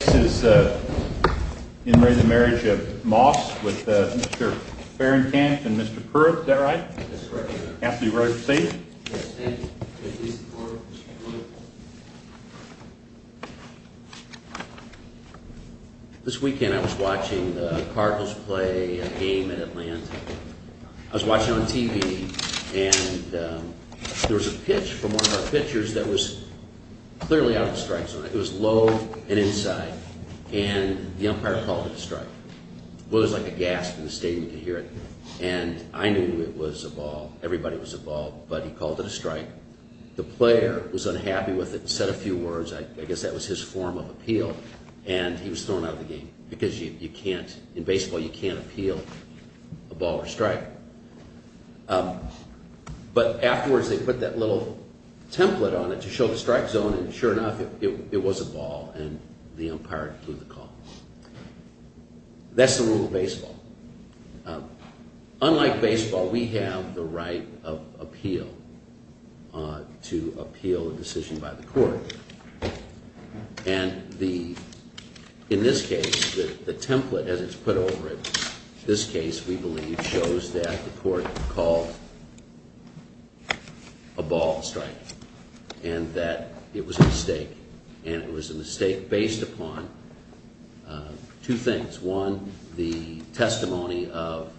This is In Re the Marriage of Moss with Mr. Farrington and Mr. Pruitt, is that right? That's correct, sir. Counsel, are you ready to proceed? Yes, thank you. This weekend I was watching the Cardinals play a game at Atlanta. I was watching it on TV and there was a pitch from one of our pitchers that was clearly out of the strike zone. It was low and inside and the umpire called it a strike. There was like a gasp in the stadium to hear it. And I knew it was a ball, everybody was a ball, but he called it a strike. The player was unhappy with it and said a few words, I guess that was his form of appeal. And he was thrown out of the game because you can't, in baseball you can't appeal a ball or strike. But afterwards they put that little template on it to show the strike zone and sure enough it was a ball and the umpire blew the call. That's the rule of baseball. Unlike baseball, we have the right of appeal, to appeal a decision by the court. And the, in this case, the template as it's put over it, this case we believe shows that the court called a ball a strike. And that it was a mistake and it was a mistake based upon two things. One, the testimony of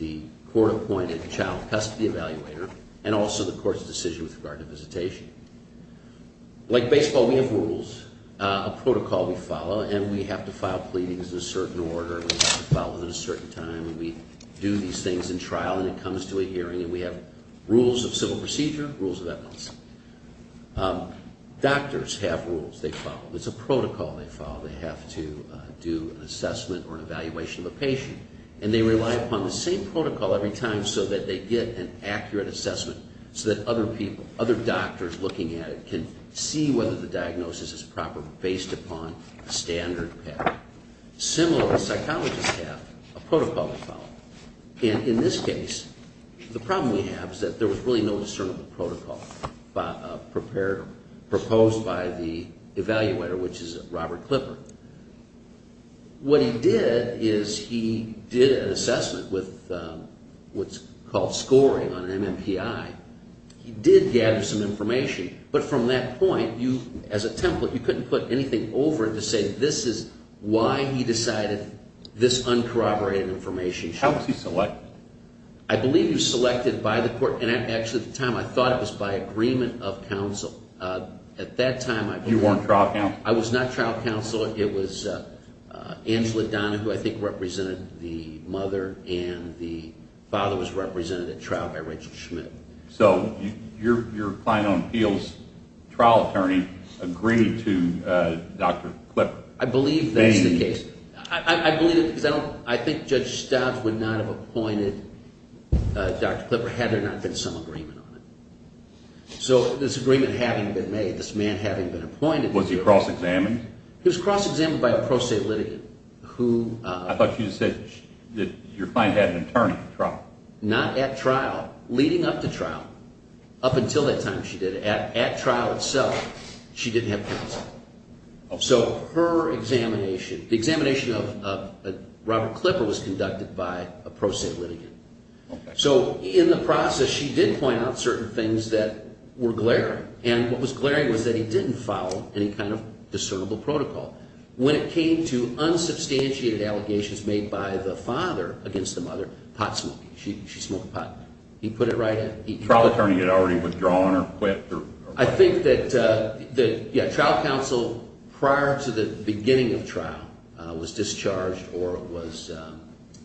the court appointed child custody evaluator and also the court's decision with regard to visitation. Like baseball we have rules, a protocol we follow and we have to file pleadings in a certain order and we have to file them at a certain time. And we do these things in trial and it comes to a hearing and we have rules of civil procedure, rules of evidence. Doctors have rules they follow, it's a protocol they follow. They have to do an assessment or an evaluation of a patient. And they rely upon the same protocol every time so that they get an accurate assessment so that other people, other doctors looking at it can see whether the diagnosis is proper based upon a standard pattern. Similarly, psychologists have a protocol they follow. And in this case, the problem we have is that there was really no discernible protocol prepared, proposed by the evaluator which is Robert Clipper. What he did is he did an assessment with what's called scoring on an MMPI. He did gather some information but from that point, as a template, you couldn't put anything over it to say this is why he decided this uncorroborated information. How was he selected? I believe he was selected by the court and actually at the time I thought it was by agreement of counsel. You weren't trial counsel? I was not trial counsel. It was Angela Donna who I think represented the mother and the father was represented at trial by Rachel Schmidt. So your client on appeals, trial attorney, agreed to Dr. Clipper. I believe that's the case. I believe it because I think Judge Stobbs would not have appointed Dr. Clipper had there not been some agreement on it. So this agreement having been made, this man having been appointed. Was he cross-examined? He was cross-examined by a pro se litigant. I thought you said that your client had an attorney at trial. Not at trial, leading up to trial. Up until that time she did it. At trial itself she didn't have counsel. So her examination, the examination of Robert Clipper was conducted by a pro se litigant. So in the process she did point out certain things that were glaring. And what was glaring was that he didn't follow any kind of discernible protocol. When it came to unsubstantiated allegations made by the father against the mother, pot smoking. She smoked pot. He put it right in. Trial attorney had already withdrawn or quit? I think that trial counsel prior to the beginning of trial was discharged or was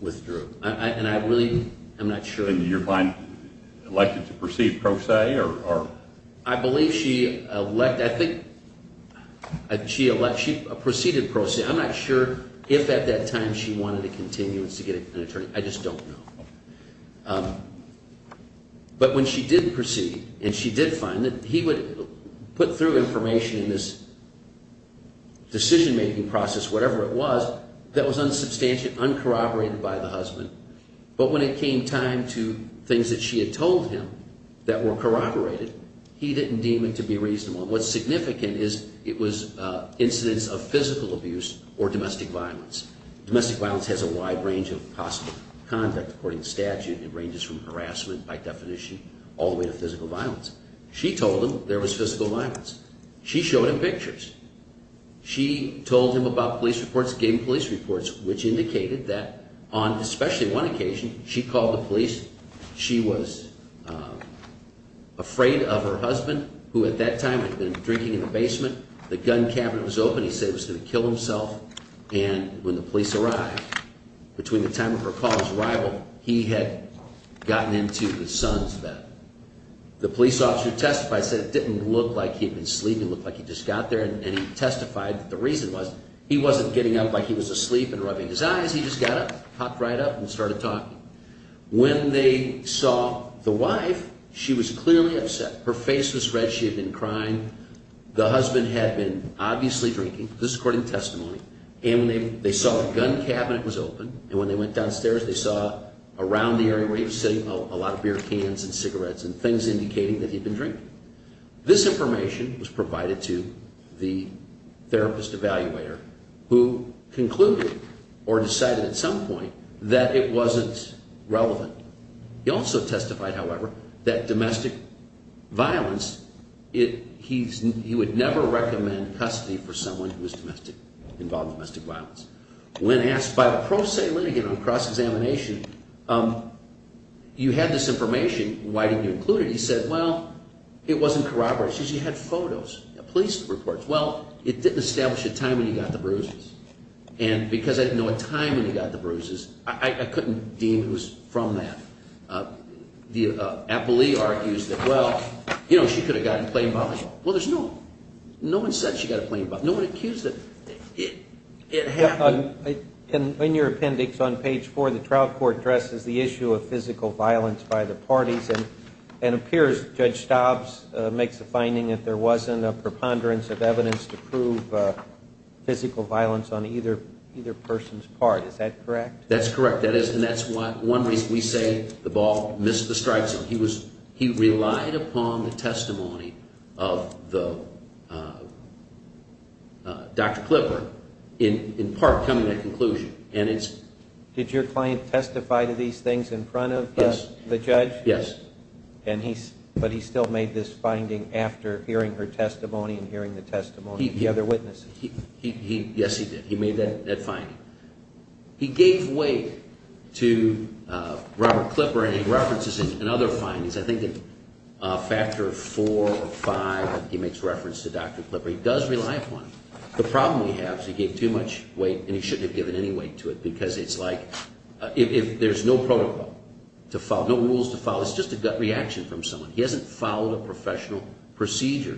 withdrew. And I really am not sure. And your client elected to proceed pro se? I believe she elected, I think she proceeded pro se. I'm not sure if at that time she wanted a continuance to get an attorney. I just don't know. But when she did proceed and she did find that he would put through information in this decision making process, whatever it was, that was unsubstantiated, uncorroborated by the husband. But when it came time to things that she had told him that were corroborated, he didn't deem it to be reasonable. And what's significant is it was incidents of physical abuse or domestic violence. Domestic violence has a wide range of possible conduct. According to statute it ranges from harassment by definition all the way to physical violence. She told him there was physical violence. She showed him pictures. She told him about police reports, gave him police reports, which indicated that on especially one occasion she called the police. She was afraid of her husband, who at that time had been drinking in the basement. The gun cabinet was open. He said he was going to kill himself. And when the police arrived, between the time of her call and his arrival, he had gotten into his son's bed. The police officer who testified said it didn't look like he had been sleeping. It looked like he just got there. And he testified that the reason was he wasn't getting up like he was asleep and rubbing his eyes. He just got up, hopped right up, and started talking. When they saw the wife, she was clearly upset. Her face was red. She had been crying. The husband had been obviously drinking. This is according to testimony. And they saw the gun cabinet was open. And when they went downstairs, they saw around the area where he was sitting a lot of beer cans and cigarettes and things indicating that he had been drinking. This information was provided to the therapist evaluator, who concluded or decided at some point that it wasn't relevant. He also testified, however, that domestic violence, he would never recommend custody for someone who was involved in domestic violence. When asked by a pro se litigant on cross-examination, you had this information. Why didn't you include it? He said, well, it wasn't corroboration. She had photos, police reports. Well, it didn't establish a time when he got the bruises. And because I didn't know a time when he got the bruises, I couldn't deem who was from that. The appellee argues that, well, you know, she could have gotten plain violence. Well, there's no one said she got a plain violence. No one accused her. It happened. In your appendix on page 4, the trial court addresses the issue of physical violence by the parties and it appears Judge Stobbs makes the finding that there wasn't a preponderance of evidence to prove physical violence on either person's part. Is that correct? That's correct. And that's one reason we say the ball missed the strike zone. He relied upon the testimony of Dr. Clipper in part coming to that conclusion. Did your client testify to these things in front of the judge? Yes. But he still made this finding after hearing her testimony and hearing the testimony of the other witnesses? Yes, he did. He made that finding. He gave weight to Robert Clipper and he references it in other findings. I think in Factor 4 or 5 he makes reference to Dr. Clipper. He does rely upon him. The problem we have is he gave too much weight and he shouldn't have given any weight to it because it's like if there's no protocol to follow, no rules to follow, it's just a gut reaction from someone. He hasn't followed a professional procedure.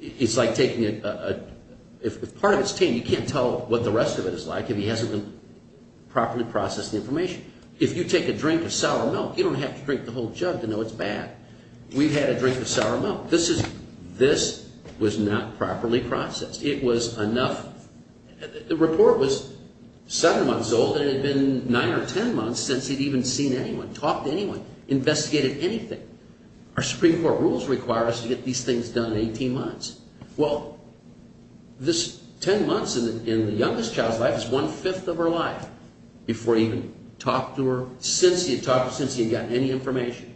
It's like taking a – if part of it's tame, you can't tell what the rest of it is like if he hasn't properly processed the information. If you take a drink of sour milk, you don't have to drink the whole jug to know it's bad. We've had a drink of sour milk. This was not properly processed. It was enough – the report was 7 months old and it had been 9 or 10 months since he'd even seen anyone, talked to anyone, investigated anything. Our Supreme Court rules require us to get these things done in 18 months. Well, this 10 months in the youngest child's life is one-fifth of her life before he even talked to her, since he had talked to her, since he had gotten any information.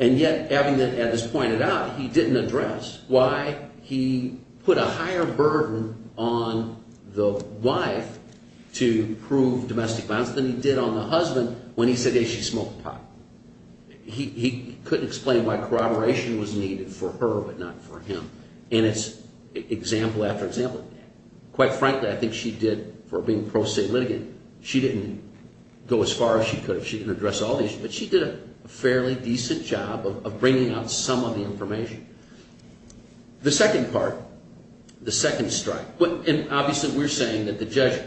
And yet, having that evidence pointed out, he didn't address why he put a higher burden on the wife to prove domestic violence than he did on the husband when he said, hey, she smoked pot. He couldn't explain why corroboration was needed for her but not for him. And it's example after example. Quite frankly, I think she did, for being pro se litigant, she didn't go as far as she could if she didn't address all these. But she did a fairly decent job of bringing out some of the information. The second part, the second strike. Obviously, we're saying that the judge,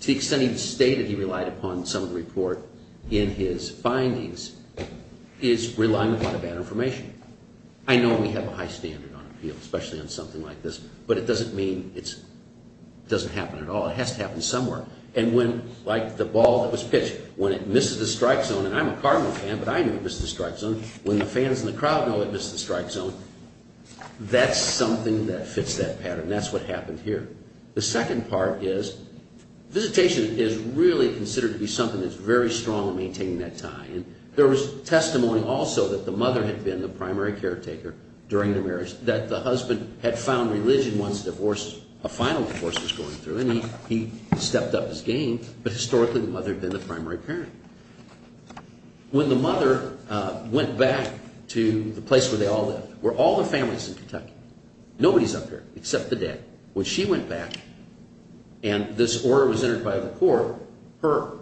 to the extent he stated he relied upon some of the report in his findings, is relying on a lot of bad information. I know we have a high standard on appeals, especially on something like this, but it doesn't mean it doesn't happen at all. It has to happen somewhere. And when, like the ball that was pitched, when it misses the strike zone, and I'm a Cardinal fan but I knew it missed the strike zone, when the fans in the crowd know it missed the strike zone, that's something that fits that pattern. That's what happened here. The second part is visitation is really considered to be something that's very strong in maintaining that tie. There was testimony also that the mother had been the primary caretaker during the marriage, that the husband had found religion once a final divorce was going through, and he stepped up his game, but historically the mother had been the primary parent. When the mother went back to the place where they all lived, where all the family's in Kentucky, nobody's up here except the dad. When she went back and this order was entered by the court,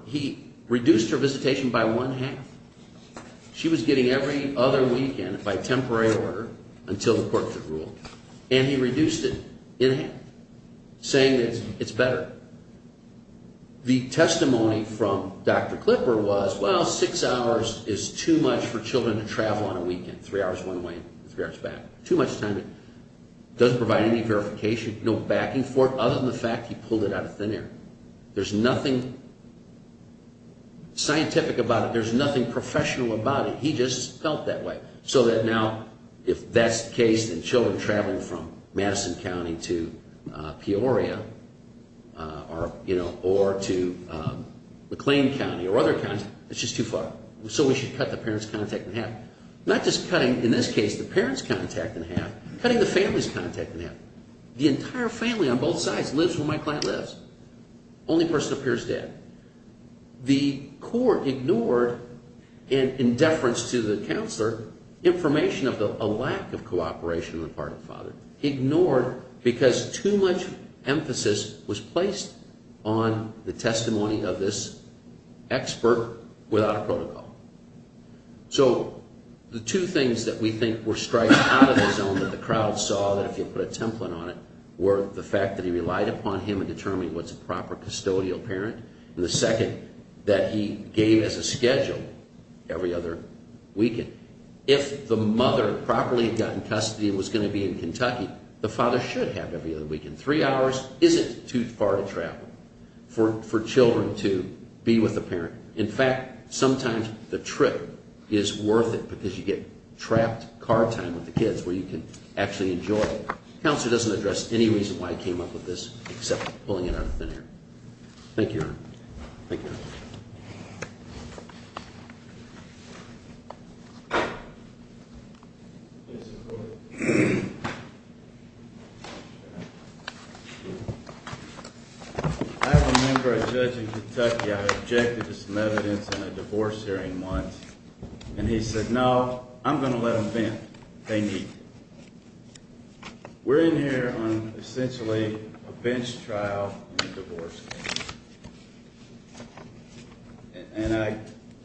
he reduced her visitation by one half. She was getting every other weekend by temporary order until the court could rule, and he reduced it in half, saying that it's better. The testimony from Dr. Clipper was, well, six hours is too much for children to travel on a weekend, three hours one way and three hours back. Too much time. It doesn't provide any verification, no backing for it, other than the fact he pulled it out of thin air. There's nothing scientific about it. There's nothing professional about it. He just felt that way. So that now if that's the case, then children traveling from Madison County to Peoria or to McLean County or other counties, it's just too far. So we should cut the parent's contact in half. Not just cutting, in this case, the parent's contact in half, cutting the family's contact in half. The entire family on both sides lives where my client lives. Only person up here is dead. The court ignored, in deference to the counselor, information of a lack of cooperation on the part of the father. Ignored because too much emphasis was placed on the testimony of this expert without a protocol. So the two things that we think were striking out of his own that the crowd saw, that if you put a template on it, were the fact that he relied upon him to determine what's a proper custodial parent, and the second, that he gave as a schedule every other weekend. If the mother had properly gotten custody and was going to be in Kentucky, the father should have every other weekend. Three hours isn't too far to travel for children to be with a parent. In fact, sometimes the trip is worth it because you get trapped car time with the kids where you can actually enjoy it. Counselor doesn't address any reason why he came up with this except pulling it out of thin air. Thank you, Your Honor. Thank you, Your Honor. I remember a judge in Kentucky. I objected to some evidence in a divorce hearing once, and he said, no, I'm going to let them vent. They need it. We're in here on essentially a bench trial in a divorce hearing, and I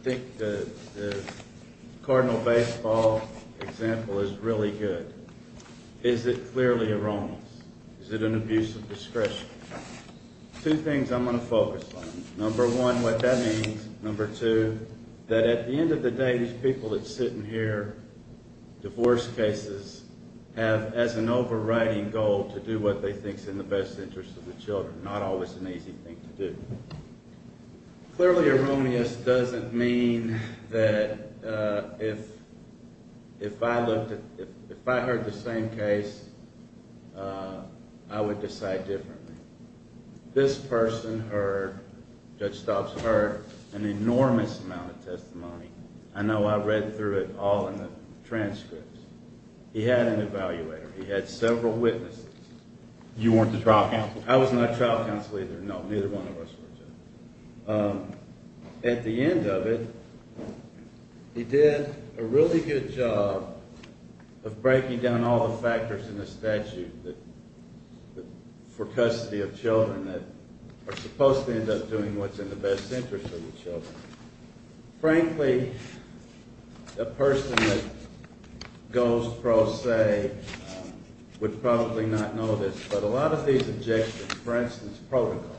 think the Cardinal baseball example is really good. Is it clearly a romance? Is it an abuse of discretion? Two things I'm going to focus on. Number one, what that means. Number two, that at the end of the day these people that are sitting here, divorce cases, have as an overriding goal to do what they think is in the best interest of the children, not always an easy thing to do. Clearly erroneous doesn't mean that if I heard the same case, I would decide differently. This person heard, Judge Stobbs heard, an enormous amount of testimony. I know I read through it all in the transcripts. He had an evaluator. He had several witnesses. You weren't the trial counsel. I was not trial counsel either. No, neither one of us were. At the end of it, he did a really good job of breaking down all the factors in the statute for custody of children that are supposed to end up doing what's in the best interest of the children. Frankly, a person that goes pro se would probably not know this, but a lot of these objections, for instance, protocol,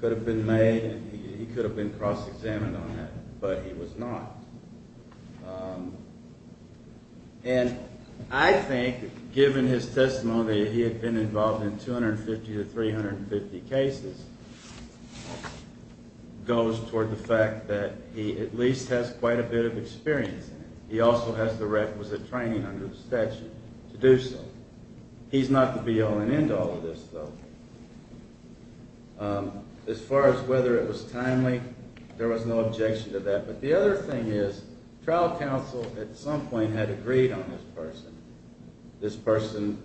could have been made and he could have been cross-examined on that, but he was not. And I think, given his testimony, he had been involved in 250 to 350 cases, goes toward the fact that he at least has quite a bit of experience in it. He also has the requisite training under the statute to do so. He's not the be-all and end-all of this, though. As far as whether it was timely, there was no objection to that. But the other thing is, trial counsel at some point had agreed on this person. This person,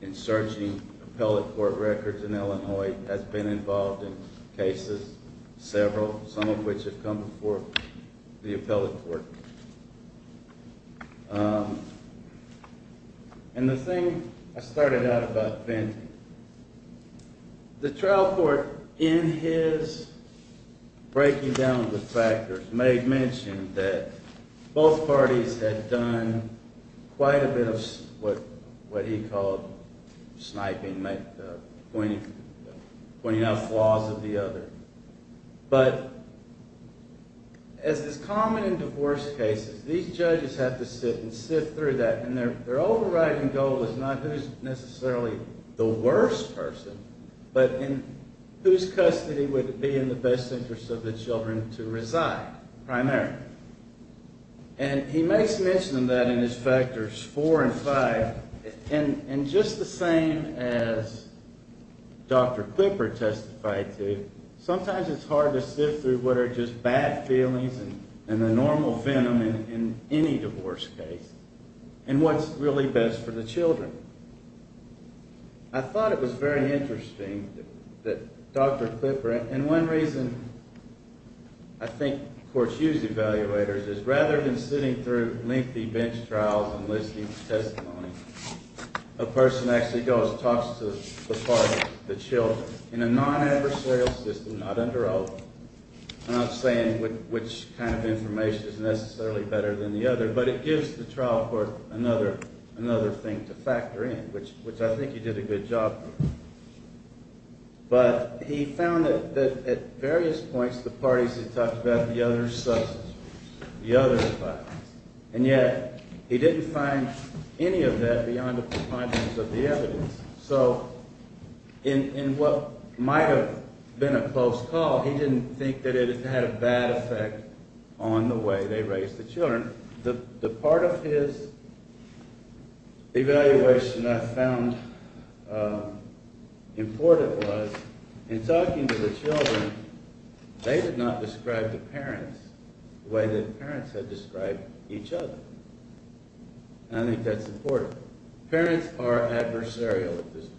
in searching appellate court records in Illinois, has been involved in cases, several, some of which have come before the appellate court. And the thing I started out about Vint, the trial court, in his breaking down the factors, may have mentioned that both parties had done quite a bit of what he called sniping, pointing out flaws of the other. But as is common in divorce cases, these judges have to sit and sift through that, and their overriding goal is not who's necessarily the worst person, but in whose custody would it be in the best interest of the children to reside, primarily. And he makes mention of that in his factors four and five, and just the same as Dr. Klipper testified to, sometimes it's hard to sift through what are just bad feelings and the normal venom in any divorce case and what's really best for the children. I thought it was very interesting that Dr. Klipper, and one reason I think courts use evaluators, is rather than sitting through lengthy bench trials and listing testimonies, a person actually goes and talks to the parties, the children, in a non-adversarial system, not under oath. I'm not saying which kind of information is necessarily better than the other, but it gives the trial court another thing to factor in, which I think he did a good job. But he found that at various points the parties had talked about the other's substance abuse, the other's violence, and yet he didn't find any of that beyond the confidence of the evidence. So in what might have been a close call, he didn't think that it had a bad effect on the way they raised the children. The part of his evaluation I found important was, in talking to the children, they did not describe the parents the way the parents had described each other. And I think that's important. Parents are adversarial at this point.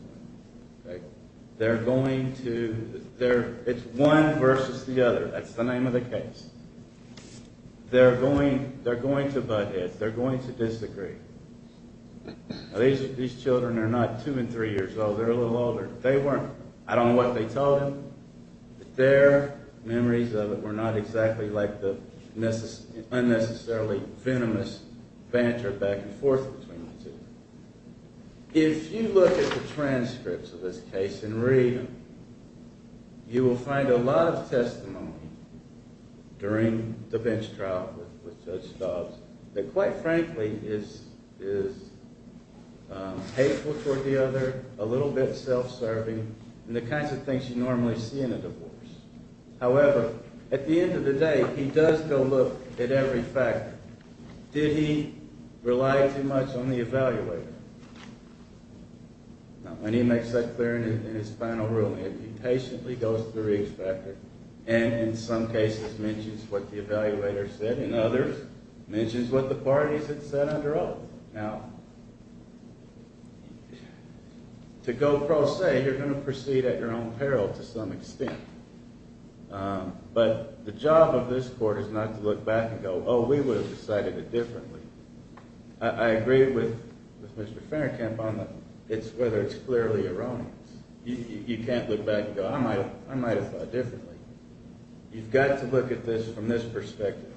They're going to, it's one versus the other, that's the name of the case. They're going to butt heads. They're going to disagree. These children are not two and three years old. They're a little older. They weren't. I don't know what they told him. Their memories of it were not exactly like the unnecessarily venomous banter back and forth between the two. If you look at the transcripts of this case and read them, you will find a lot of testimony during the bench trial with Judge Stobbs that quite frankly is hateful toward the other, a little bit self-serving, and the kinds of things you normally see in a divorce. However, at the end of the day, he does go look at every factor. Did he rely too much on the evaluator? Now, when he makes that clear in his final ruling, he patiently goes through each factor and in some cases mentions what the evaluator said and others mentions what the parties had said under oath. Now, to go pro se, you're going to proceed at your own peril to some extent. But the job of this court is not to look back and go, oh, we would have decided it differently. I agree with Mr. Fennerkamp on whether it's clearly erroneous. You can't look back and go, I might have thought differently. You've got to look at this from this perspective.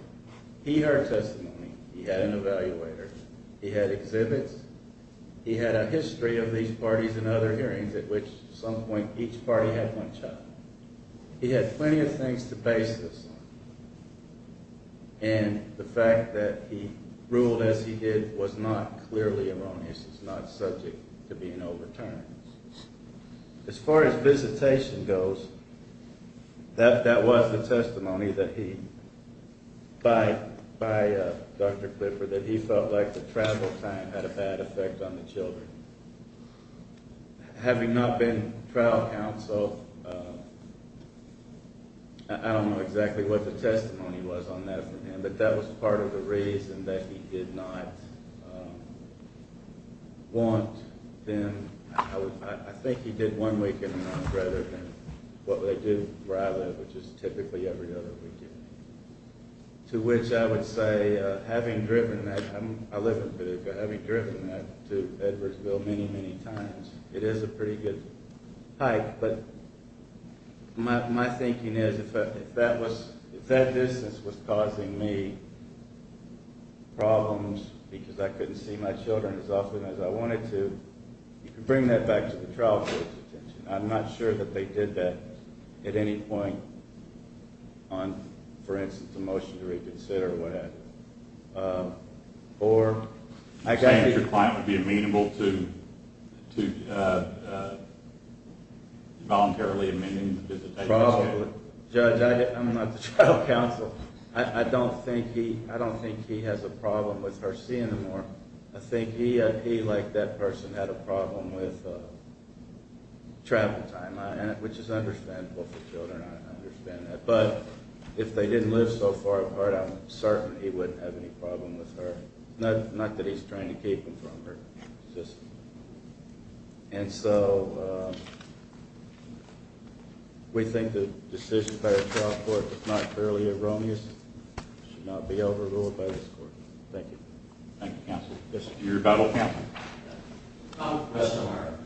He heard testimony. He had an evaluator. He had exhibits. He had a history of these parties and other hearings at which at some point each party had one child. He had plenty of things to base this on. And the fact that he ruled as he did was not clearly erroneous. It's not subject to being overturned. As far as visitation goes, that was the testimony that he, by Dr. Clifford, that he felt like the travel time had a bad effect on the children. Having not been trial counsel, I don't know exactly what the testimony was on that for him, but that was part of the reason that he did not want them. I think he did one weekend a month rather than what they do where I live, which is typically every other weekend. To which I would say, having driven that, I live in Paducah, having driven that to Edwardsville many, many times, it is a pretty good hike. But my thinking is if that distance was causing me problems because I couldn't see my children as often as I wanted to, you can bring that back to the trial court's attention. I'm not sure that they did that at any point on, for instance, the motion to reconsider or what have you. You're saying that your client would be amenable to voluntarily amending the visitation? Probably. Judge, I'm not the trial counsel. I don't think he has a problem with Hersey anymore. I think he, like that person, had a problem with travel time, which is understandable for children. I understand that. But if they didn't live so far apart, I'm certain he wouldn't have any problem with her. Not that he's trying to keep them from her. We think the decision by the trial court was not purely erroneous. It should not be overruled by this court. Thank you. Thank you, counsel. You're a battle counsel? Yes, I am.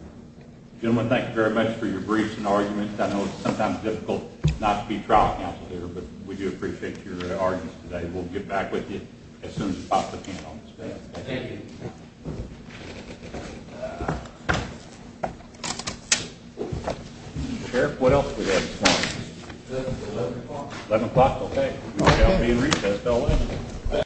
Gentlemen, thank you very much for your briefs and arguments. I know it's sometimes difficult not to be trial counsel here, but we do appreciate your arguments today. We'll get back with you as soon as we pop the pen on this bill. Thank you. Sheriff, what else do we have this morning? 11 o'clock. 11 o'clock, okay. We shall be in recess until then.